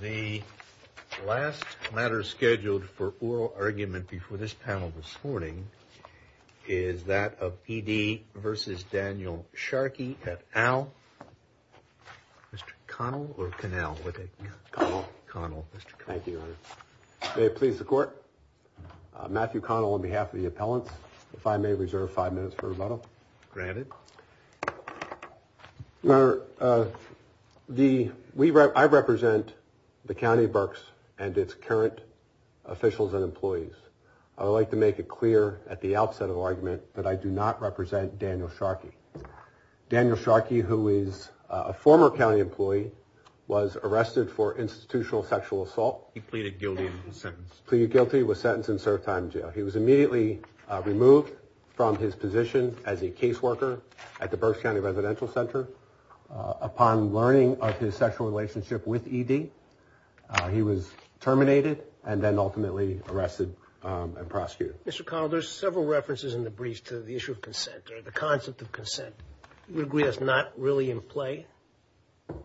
The last matter scheduled for oral argument before this panel this morning is that of P.D. v. Daniel Sharkey et al. Mr. Connell or Connell? Connell. Thank you, Your Honor. May it please the Court? Matthew Connell on behalf of the appellants, if I may reserve five minutes for rebuttal. Granted. Your Honor, I represent the County of Berks and its current officials and employees. I would like to make it clear at the outset of the argument that I do not represent Daniel Sharkey. Daniel Sharkey, who is a former county employee, was arrested for institutional sexual assault. He pleaded guilty and was sentenced. He was immediately removed from his position as a caseworker at the Berks County Residential Center. Upon learning of his sexual relationship with E.D., he was terminated and then ultimately arrested and prosecuted. Mr. Connell, there's several references in the briefs to the issue of consent or the concept of consent. You would agree that's not really in play?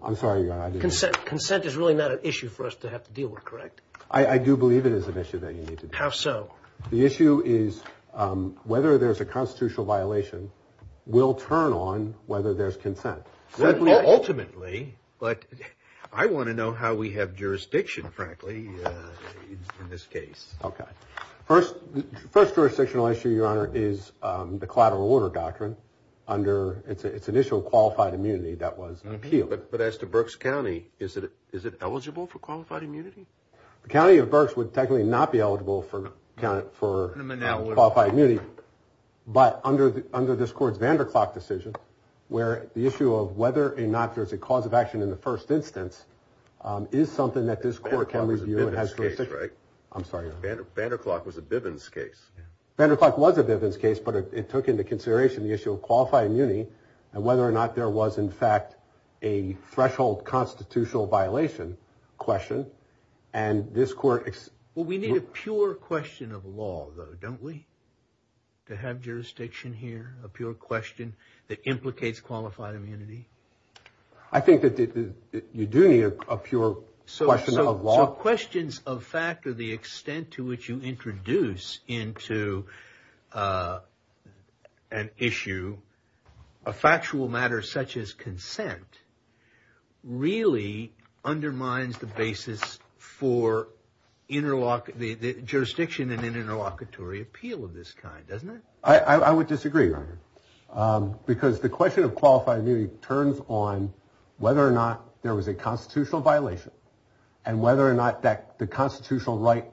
I'm sorry, Your Honor. Consent is really not an issue for us to have to deal with, correct? How so? The issue is whether there's a constitutional violation will turn on whether there's consent. Ultimately, but I want to know how we have jurisdiction, frankly, in this case. Okay. First jurisdictional issue, Your Honor, is the collateral order doctrine under its initial qualified immunity that was appealed. But as to Berks County, is it eligible for qualified immunity? The county of Berks would technically not be eligible for qualified immunity. But under this court's Vanderklok decision, where the issue of whether or not there's a cause of action in the first instance is something that this court can review. Vanderklok was a Bivens case, right? I'm sorry, Your Honor. Vanderklok was a Bivens case. Vanderklok was a Bivens case, but it took into consideration the issue of qualified immunity and whether or not there was, in fact, a threshold constitutional violation question. And this court... Well, we need a pure question of law, though, don't we? To have jurisdiction here, a pure question that implicates qualified immunity. I think that you do need a pure question of law. So questions of fact are the extent to which you introduce into an issue a factual matter such as consent really undermines the basis for the jurisdiction and interlocutory appeal of this kind, doesn't it? I would disagree, Your Honor. Because the question of qualified immunity turns on whether or not there was a constitutional violation and whether or not the constitutional right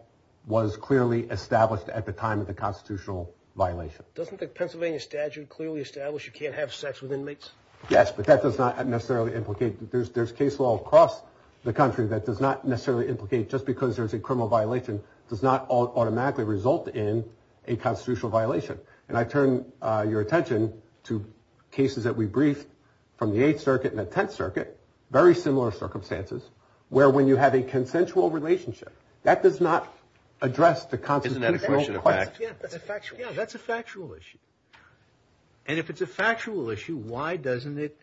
was clearly established at the time of the constitutional violation. Doesn't the Pennsylvania statute clearly establish you can't have sex with inmates? Yes, but that does not necessarily implicate... There's case law across the country that does not necessarily implicate just because there's a criminal violation does not automatically result in a constitutional violation. And I turn your attention to cases that we briefed from the Eighth Circuit and the Tenth Circuit, very similar circumstances, where when you have a consensual relationship, that does not address the constitutional... Isn't that a question of fact? Yeah, that's a factual issue. And if it's a factual issue, why doesn't it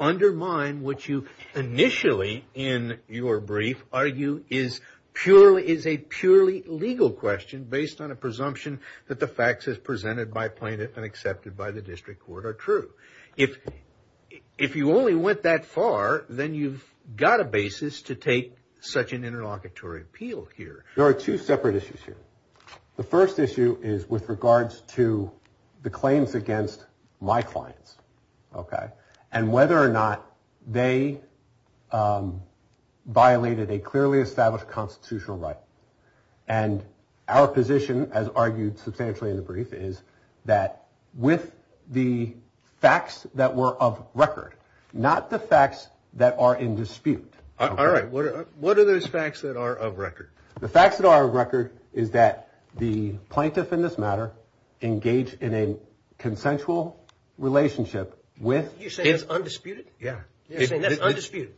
undermine what you initially in your brief argue is a purely legal question based on a presumption that the facts as presented by plaintiff and accepted by the district court are true? If you only went that far, then you've got a basis to take such an interlocutory appeal here. There are two separate issues here. The first issue is with regards to the claims against my clients. OK. And whether or not they violated a clearly established constitutional right. And our position, as argued substantially in the brief, is that with the facts that were of record, not the facts that are in dispute. All right. What are those facts that are of record? The facts that are of record is that the plaintiff in this matter engaged in a consensual relationship with... You're saying that's undisputed? Yeah. You're saying that's undisputed?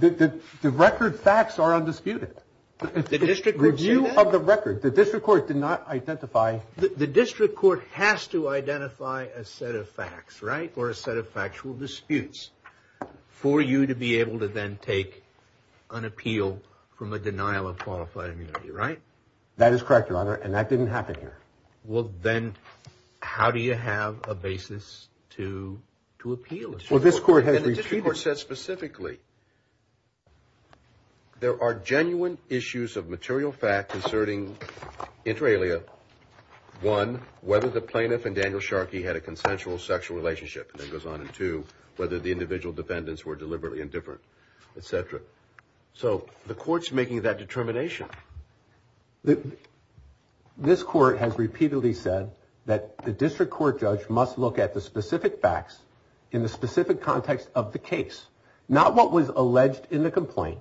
The record facts are undisputed. The district would say that? The view of the record. The district court did not identify... The district court has to identify a set of facts, right? Or a set of factual disputes for you to be able to then take an appeal from a denial of qualified immunity, right? That is correct, Your Honor, and that didn't happen here. Well, then how do you have a basis to appeal? Well, this court has repeated... And the district court said specifically, there are genuine issues of material fact concerning inter alia, one, whether the plaintiff and Daniel Sharkey had a consensual sexual relationship, and that goes on, and two, whether the individual defendants were deliberately indifferent, et cetera. So the court's making that determination. This court has repeatedly said that the district court judge must look at the specific facts in the specific context of the case, not what was alleged in the complaint,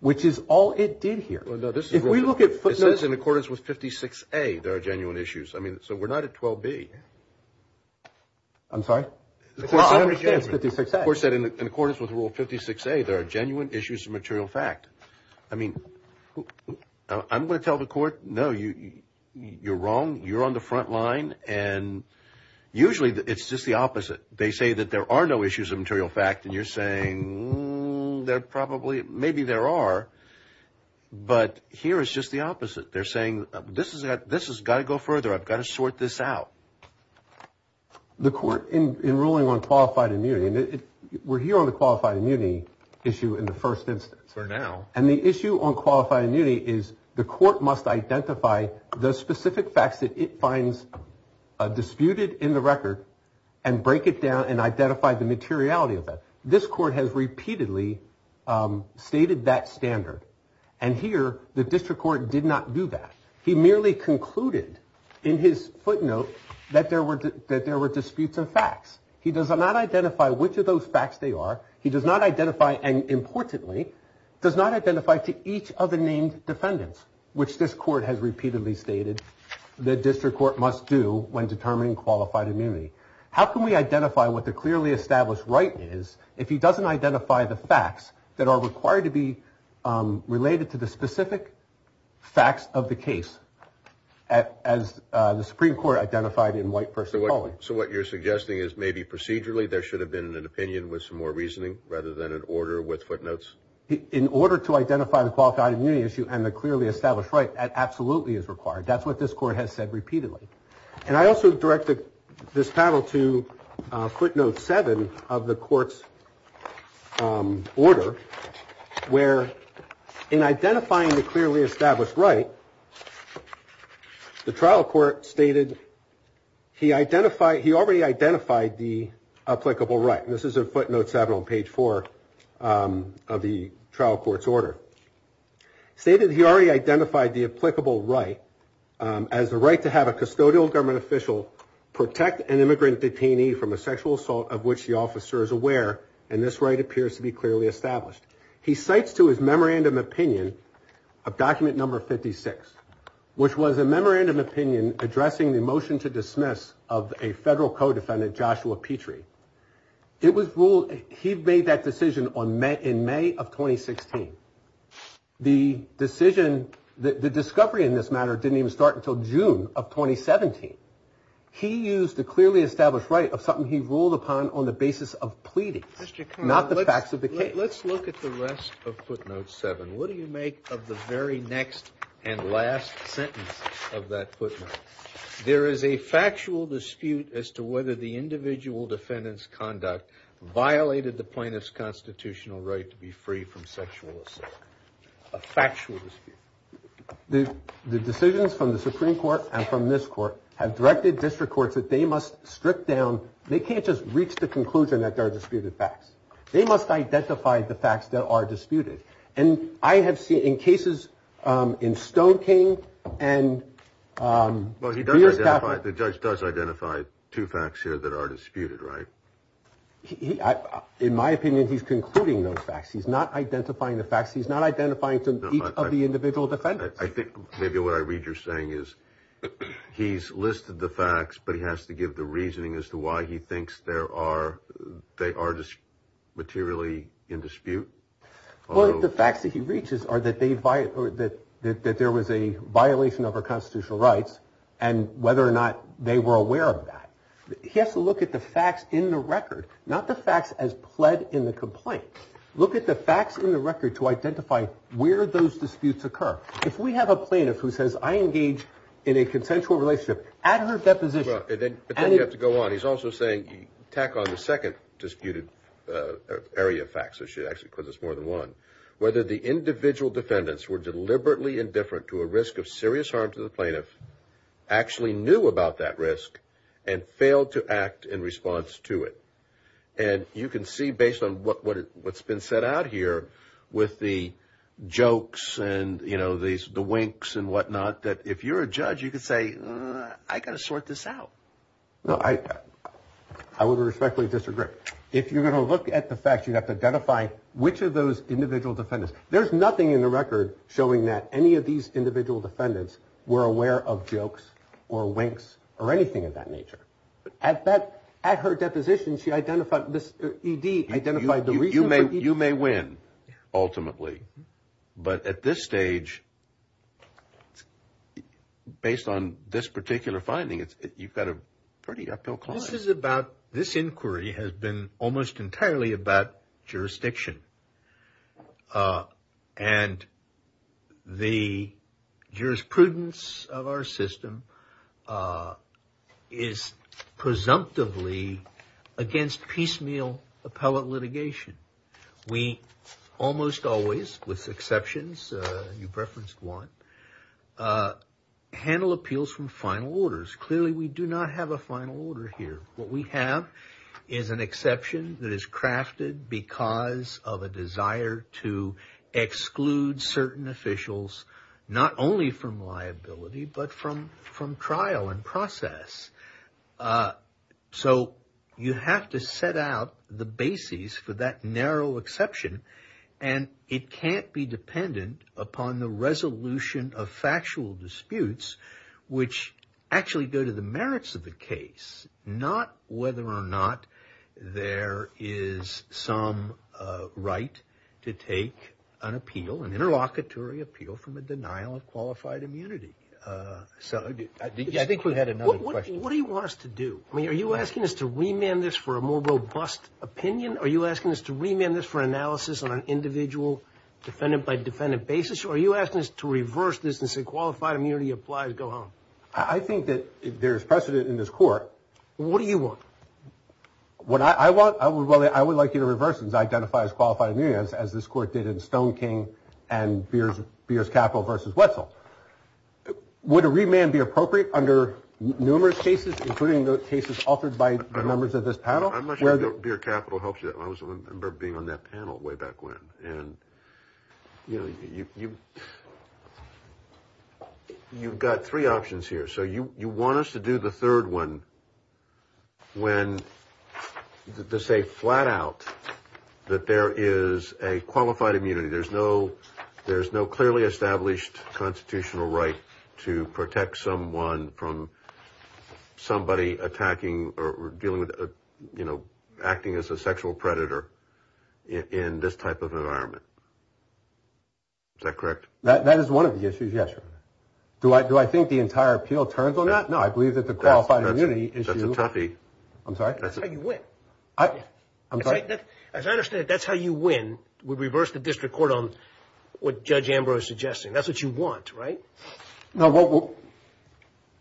which is all it did here. If we look at footnotes in accordance with 56A, there are genuine issues. I mean, so we're not at 12B. I'm sorry? The court said in accordance with rule 56A, there are genuine issues of material fact. I mean, I'm going to tell the court, no, you're wrong. You're on the front line, and usually it's just the opposite. They say that there are no issues of material fact, and you're saying there probably maybe there are, but here it's just the opposite. They're saying this has got to go further. I've got to sort this out. The court in ruling on qualified immunity, and we're here on the qualified immunity issue in the first instance. For now. And the issue on qualified immunity is the court must identify the specific facts that it finds disputed in the record and break it down and identify the materiality of that. This court has repeatedly stated that standard. And here the district court did not do that. He merely concluded in his footnote that there were that there were disputes of facts. He does not identify which of those facts they are. He does not identify. And importantly, does not identify to each of the named defendants, which this court has repeatedly stated the district court must do when determining qualified immunity. How can we identify what the clearly established right is if he doesn't identify the facts that are required to be related to the specific facts of the case? As the Supreme Court identified in white person. So what you're suggesting is maybe procedurally there should have been an opinion with some more reasoning rather than an order with footnotes. In order to identify the qualified immunity issue and the clearly established right absolutely is required. That's what this court has said repeatedly. And I also directed this panel to footnote seven of the court's order where in identifying the clearly established right, the trial court stated he identified he already identified the applicable right. This is a footnote seven on page four of the trial court's order stated he already identified the applicable right as the right to have a custodial government official protect an immigrant detainee from a sexual assault of which the officer is aware. And this right appears to be clearly established. He cites to his memorandum opinion of document number 56, which was a memorandum opinion addressing the motion to dismiss of a federal code defendant, Joshua Petrie. It was ruled he made that decision on May in May of 2016. The decision that the discovery in this matter didn't even start until June of 2017. He used the clearly established right of something he ruled upon on the basis of pleading, not the facts of the case. Let's look at the rest of footnotes seven. What do you make of the very next and last sentence of that footnote? There is a factual dispute as to whether the individual defendant's conduct violated the plaintiff's constitutional right to be free from sexual assault. A factual dispute. The decisions from the Supreme Court and from this court have directed district courts that they must strip down. They can't just reach the conclusion that there are disputed facts. They must identify the facts that are disputed. And I have seen in cases in Stone King and the judge does identify two facts here that are disputed. Right. He, in my opinion, he's concluding those facts. He's not identifying the facts. He's not identifying to each of the individual defendants. I think maybe what I read you're saying is he's listed the facts, but he has to give the reasoning as to why he thinks there are they are just materially in dispute. Well, the facts that he reaches are that they buy it or that there was a violation of our constitutional rights and whether or not they were aware of that. He has to look at the facts in the record, not the facts as pled in the complaint. Look at the facts in the record to identify where those disputes occur. If we have a plaintiff who says I engage in a consensual relationship at her deposition, then you have to go on. He's also saying you tack on the second disputed area facts. So she actually because it's more than one, whether the individual defendants were deliberately indifferent to a risk of serious harm to the plaintiff, actually knew about that risk and failed to act in response to it. And you can see based on what's been set out here with the jokes and, you know, these the winks and whatnot, that if you're a judge, you can say, I got to sort this out. No, I, I would respectfully disagree. If you're going to look at the facts, you have to identify which of those individual defendants. There's nothing in the record showing that any of these individual defendants were aware of jokes or winks or anything of that nature. At that at her deposition, she identified this E.D. identified the reason you may you may win ultimately. But at this stage, based on this particular finding, you've got a pretty uphill climb. This is about this inquiry has been almost entirely about jurisdiction and the jurisprudence of our system is presumptively against piecemeal appellate litigation. We almost always with exceptions. You've referenced one handle appeals from final orders. Clearly, we do not have a final order here. What we have is an exception that is crafted because of a desire to exclude certain officials, not only from liability, but from from trial and process. So you have to set out the basis for that narrow exception, and it can't be dependent upon the resolution of factual disputes, which actually go to the merits of the case, not whether or not there is some right to take an appeal and interlocutory appeal from a denial of qualified immunity. So I think we had another question. What do you want us to do? I mean, are you asking us to remand this for a more robust opinion? Are you asking us to remand this for analysis on an individual defendant by defendant basis? Are you asking us to reverse this and say qualified immunity applies? Go home. I think that there's precedent in this court. What do you want? What I want, I would like you to reverse and identify as qualified immunity, as this court did in Stone King and Beers Capital versus Wetzel. Would a remand be appropriate under numerous cases, including the cases offered by the members of this panel? I'm not sure if Beer Capital helps you. I remember being on that panel way back when. You know, you've got three options here. So you want us to do the third one when to say flat out that there is a qualified immunity. There's no clearly established constitutional right to protect someone from somebody attacking or dealing with, you know, acting as a sexual predator in this type of environment. Is that correct? That is one of the issues, yes, sir. Do I think the entire appeal turns on that? No, I believe that the qualified immunity issue. That's a toughie. I'm sorry? That's how you win. As I understand it, that's how you win. We reverse the district court on what Judge Ambrose is suggesting. That's what you want, right? No,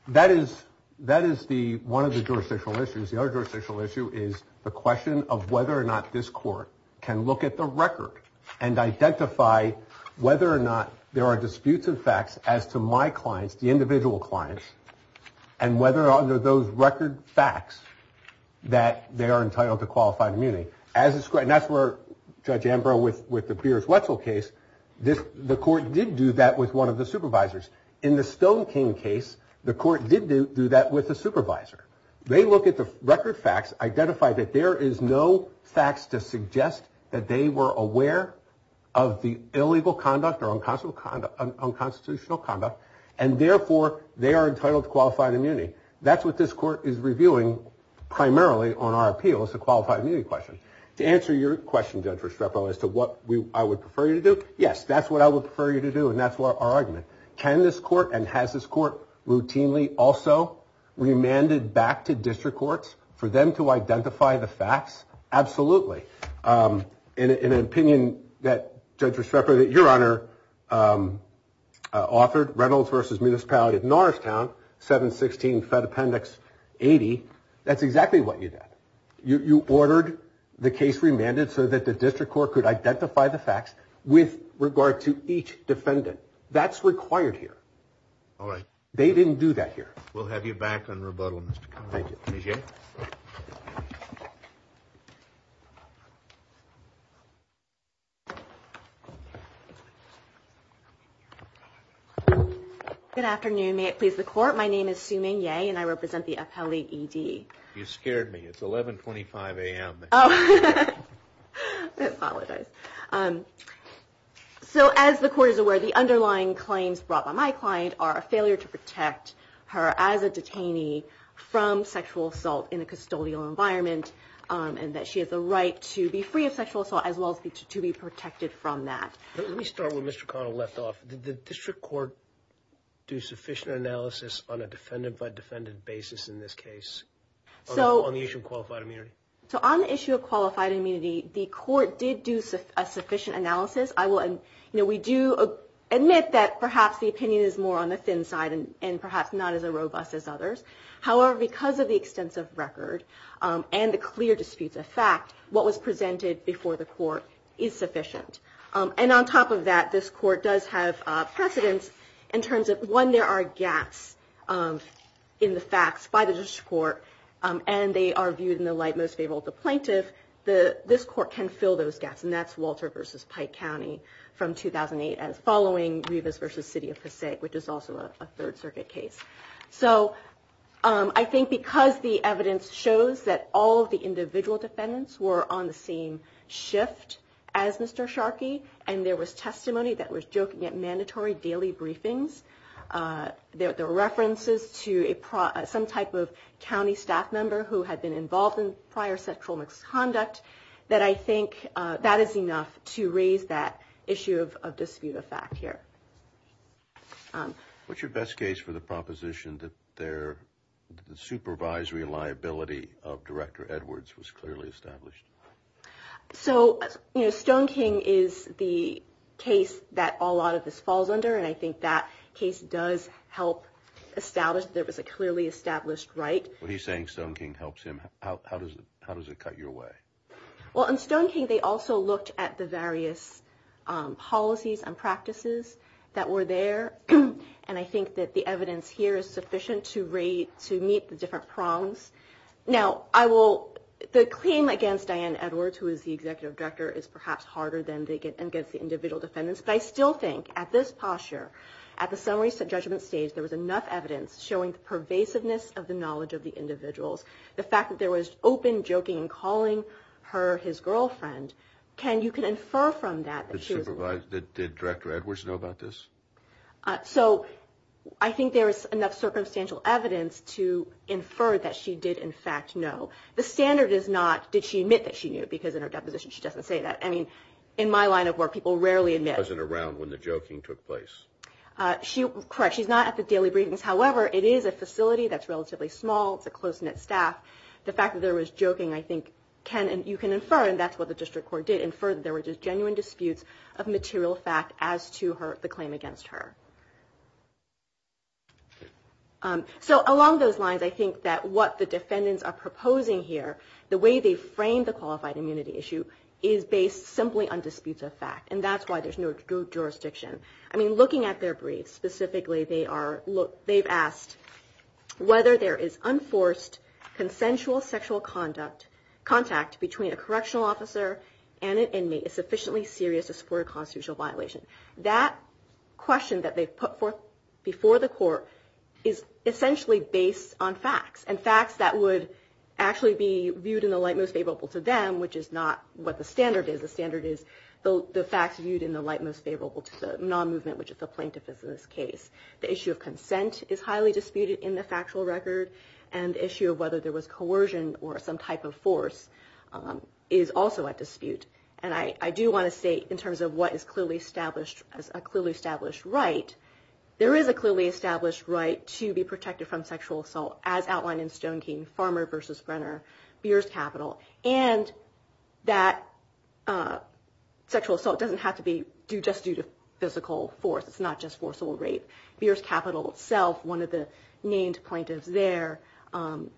that is one of the jurisdictional issues. The other jurisdictional issue is the question of whether or not this court can look at the record and identify whether or not there are disputes of facts as to my clients, the individual clients, and whether or not there are those record facts that they are entitled to qualified immunity. And that's where Judge Ambrose with the Beers-Wetzel case, the court did do that with one of the supervisors. In the Stone King case, the court did do that with a supervisor. They look at the record facts, identify that there is no facts to suggest that they were aware of the illegal conduct or unconstitutional conduct, and therefore they are entitled to qualified immunity. That's what this court is reviewing primarily on our appeals, the qualified immunity question. To answer your question, Judge Restrepo, as to what I would prefer you to do, yes, that's what I would prefer you to do, and that's our argument. Can this court and has this court routinely also remanded back to district courts for them to identify the facts? Absolutely. In an opinion that Judge Restrepo, your Honor, authored, Reynolds v. Municipality of Norristown, 716 Fed Appendix 80, that's exactly what you did. You ordered the case remanded so that the district court could identify the facts with regard to each defendant. That's required here. All right. They didn't do that here. We'll have you back on rebuttal, Mr. Connolly. Thank you. Ms. Yeh? Good afternoon. May it please the Court? My name is Sue Meng Yeh, and I represent the appellee, E.D. You scared me. It's 1125 a.m. Oh. I apologize. So as the Court is aware, the underlying claims brought by my client are a failure to protect her as a detainee from sexual assault in a custodial environment, and that she has the right to be free of sexual assault as well as to be protected from that. Let me start where Mr. Connolly left off. Did the district court do sufficient analysis on a defendant-by-defendant basis in this case on the issue of qualified immunity? So on the issue of qualified immunity, the Court did do a sufficient analysis. We do admit that perhaps the opinion is more on the thin side and perhaps not as robust as others. However, because of the extensive record and the clear disputes of fact, what was presented before the Court is sufficient. And on top of that, this Court does have precedence in terms of, one, there are gaps in the facts by the district court, and they are viewed in the light most favorable to the plaintiff. This Court can fill those gaps, and that's Walter v. Pike County from 2008, following Rivas v. City of Passaic, which is also a Third Circuit case. So I think because the evidence shows that all of the individual defendants were on the same shift as Mr. Sharkey, and there was testimony that was joking at mandatory daily briefings, there were references to some type of county staff member who had been involved in prior sexual misconduct, that I think that is enough to raise that issue of dispute of fact here. What's your best case for the proposition that the supervisory liability of Director Edwards was clearly established? So Stone King is the case that a lot of this falls under, and I think that case does help establish that there was a clearly established right. When he's saying Stone King helps him, how does it cut your way? Well, in Stone King, they also looked at the various policies and practices that were there, and I think that the evidence here is sufficient to meet the different prongs. Now, the claim against Diane Edwards, who is the Executive Director, is perhaps harder than against the individual defendants, but I still think at this posture, at the summary judgment stage, there was enough evidence showing the pervasiveness of the knowledge of the individuals. The fact that there was open joking and calling her his girlfriend, you can infer from that. Did Director Edwards know about this? So I think there is enough circumstantial evidence to infer that she did, in fact, know. The standard is not, did she admit that she knew, because in her deposition she doesn't say that. I mean, in my line of work, people rarely admit. She wasn't around when the joking took place. Correct, she's not at the daily briefings. However, it is a facility that's relatively small. It's a close-knit staff. The fact that there was joking, I think, you can infer, and that's what the district court did, infer that there were just genuine disputes of material fact as to the claim against her. So along those lines, I think that what the defendants are proposing here, the way they framed the qualified immunity issue, is based simply on disputes of fact, and that's why there's no jurisdiction. I mean, looking at their briefs, specifically, they've asked whether there is unforced consensual sexual contact between a correctional officer and an inmate is sufficiently serious to support a constitutional violation. That question that they've put forth before the court is essentially based on facts, and facts that would actually be viewed in the light most favorable to them, which is not what the standard is. The facts viewed in the light most favorable to the non-movement, which is the plaintiff in this case. The issue of consent is highly disputed in the factual record, and the issue of whether there was coercion or some type of force is also at dispute. And I do want to say, in terms of what is clearly established as a clearly established right, there is a clearly established right to be protected from sexual assault, as outlined in Stone King, Farmer v. Brenner, Beer's Capital, and that sexual assault doesn't have to be just due to physical force. It's not just forcible rape. Beer's Capital itself, one of the named plaintiffs there,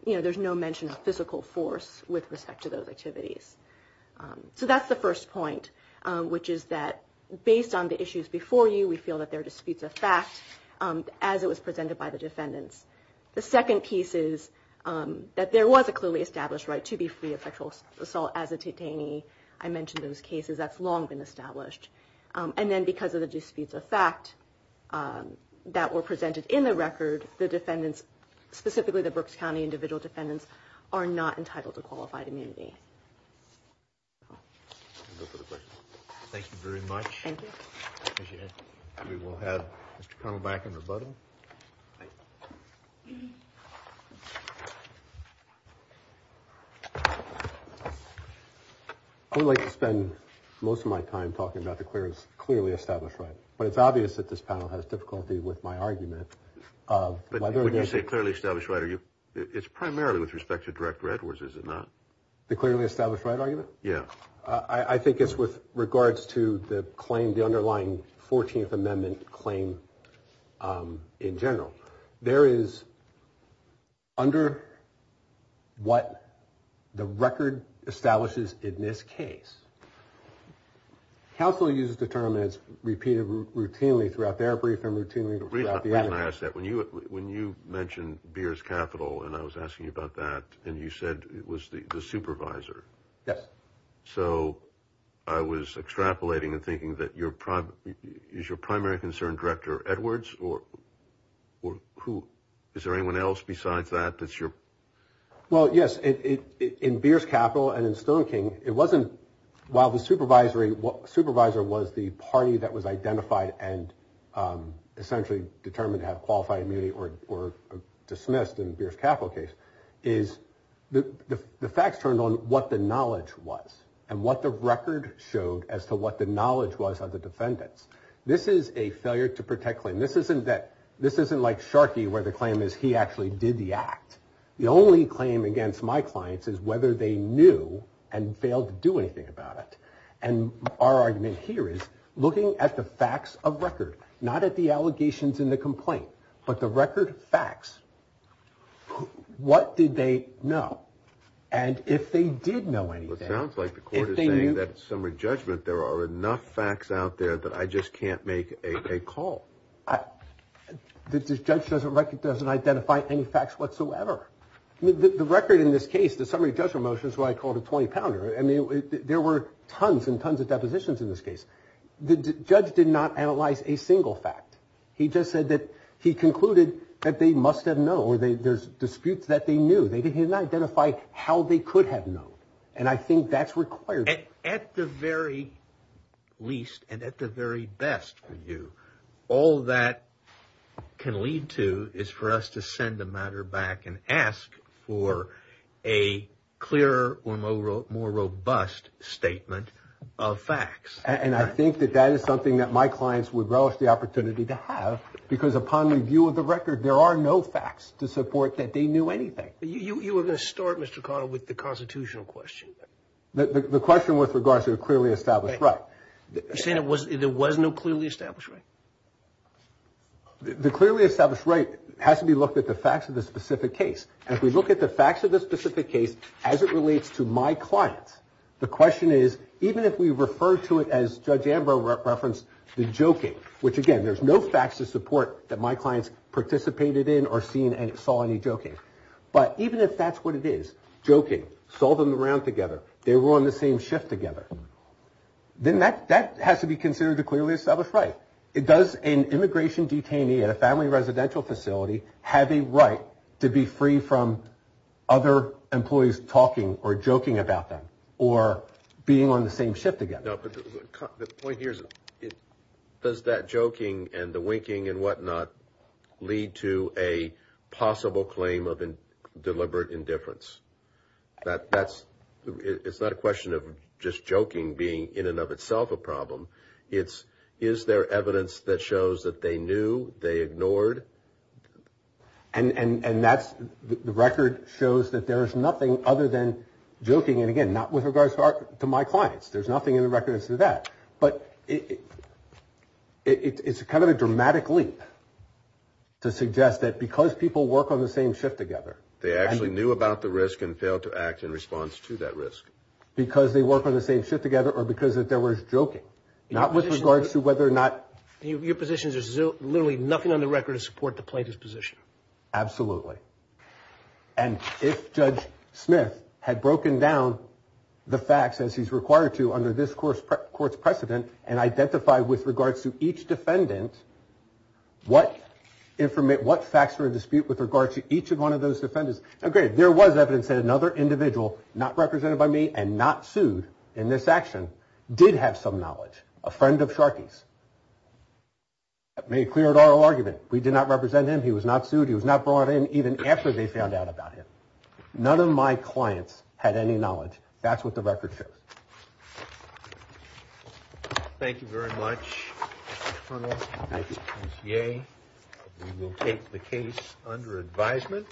there's no mention of physical force with respect to those activities. So that's the first point, which is that based on the issues before you, we feel that there are disputes of fact, as it was presented by the defendants. The second piece is that there was a clearly established right to be free of sexual assault as a detainee. I mentioned those cases. That's long been established. And then because of the disputes of fact that were presented in the record, the defendants, specifically the Brooks County individual defendants, are not entitled to qualified immunity. Thank you very much. Thank you. We will have Mr. Connell back in rebuttal. I would like to spend most of my time talking about the clearly established right. But it's obvious that this panel has difficulty with my argument. But when you say clearly established right, it's primarily with respect to direct records, is it not? The clearly established right argument? Yeah. I think it's with regards to the claim, the underlying 14th Amendment claim in general. There is, under what the record establishes in this case, counsel uses the term as repeated routinely throughout their brief and routinely throughout the other. Let me ask that. When you mentioned Beers Capital and I was asking you about that and you said it was the supervisor. Yes. So I was extrapolating and thinking that your prime is your primary concern, Director Edwards, or who? Is there anyone else besides that? That's your. Well, yes. In Beers Capital and in Stone King, it wasn't while the supervisory supervisor was the party that was identified and essentially determined to have qualified immunity or dismissed in Beers Capital case is the facts turned on. What the knowledge was and what the record showed as to what the knowledge was of the defendants. This is a failure to protect claim. This isn't that this isn't like Sharkey where the claim is he actually did the act. The only claim against my clients is whether they knew and failed to do anything about it. And our argument here is looking at the facts of record, not at the allegations in the complaint, but the record facts. What did they know? And if they did know anything. It sounds like the court is saying that summary judgment. There are enough facts out there that I just can't make a call. This judge doesn't recognize and identify any facts whatsoever. The record in this case, the summary judgment motion is what I called a 20 pounder. And there were tons and tons of depositions in this case. The judge did not analyze a single fact. He just said that he concluded that they must have known or there's disputes that they knew. They did not identify how they could have known. And I think that's required at the very least and at the very best for you. All that can lead to is for us to send the matter back and ask for a clearer or more robust statement of facts. And I think that that is something that my clients would relish the opportunity to have. Because upon review of the record, there are no facts to support that they knew anything. You were going to start, Mr. Connell, with the constitutional question. The question with regards to a clearly established right. You're saying there was no clearly established right? The clearly established right has to be looked at the facts of the specific case. And if we look at the facts of the specific case as it relates to my clients, the question is even if we refer to it as Judge Ambrose referenced the joking, which, again, there's no facts to support that my clients participated in or seen and saw any joking. But even if that's what it is, joking, saw them around together, they were on the same shift together, then that has to be considered a clearly established right. Does an immigration detainee at a family residential facility have a right to be free from other employees talking or joking about them or being on the same shift together? No, but the point here is does that joking and the winking and whatnot lead to a possible claim of deliberate indifference? It's not a question of just joking being in and of itself a problem. It's is there evidence that shows that they knew, they ignored? And the record shows that there is nothing other than joking, and again, not with regards to my clients. There's nothing in the record that says that. But it's kind of a dramatic leap to suggest that because people work on the same shift together. They actually knew about the risk and failed to act in response to that risk. Because they work on the same shift together or because there was joking, not with regards to whether or not. Your position is there's literally nothing on the record to support the plaintiff's position. Absolutely. And if Judge Smith had broken down the facts as he's required to under this course, courts precedent and identify with regards to each defendant, what informant, what facts were in dispute with regard to each of one of those defendants? OK, there was evidence that another individual not represented by me and not sued in this action did have some knowledge. A friend of Sharkey's made clear at our argument. We did not represent him. He was not sued. He was not brought in even after they found out about him. None of my clients had any knowledge. That's what the record shows. Thank you very much. Yeah, we will take the case under advisement.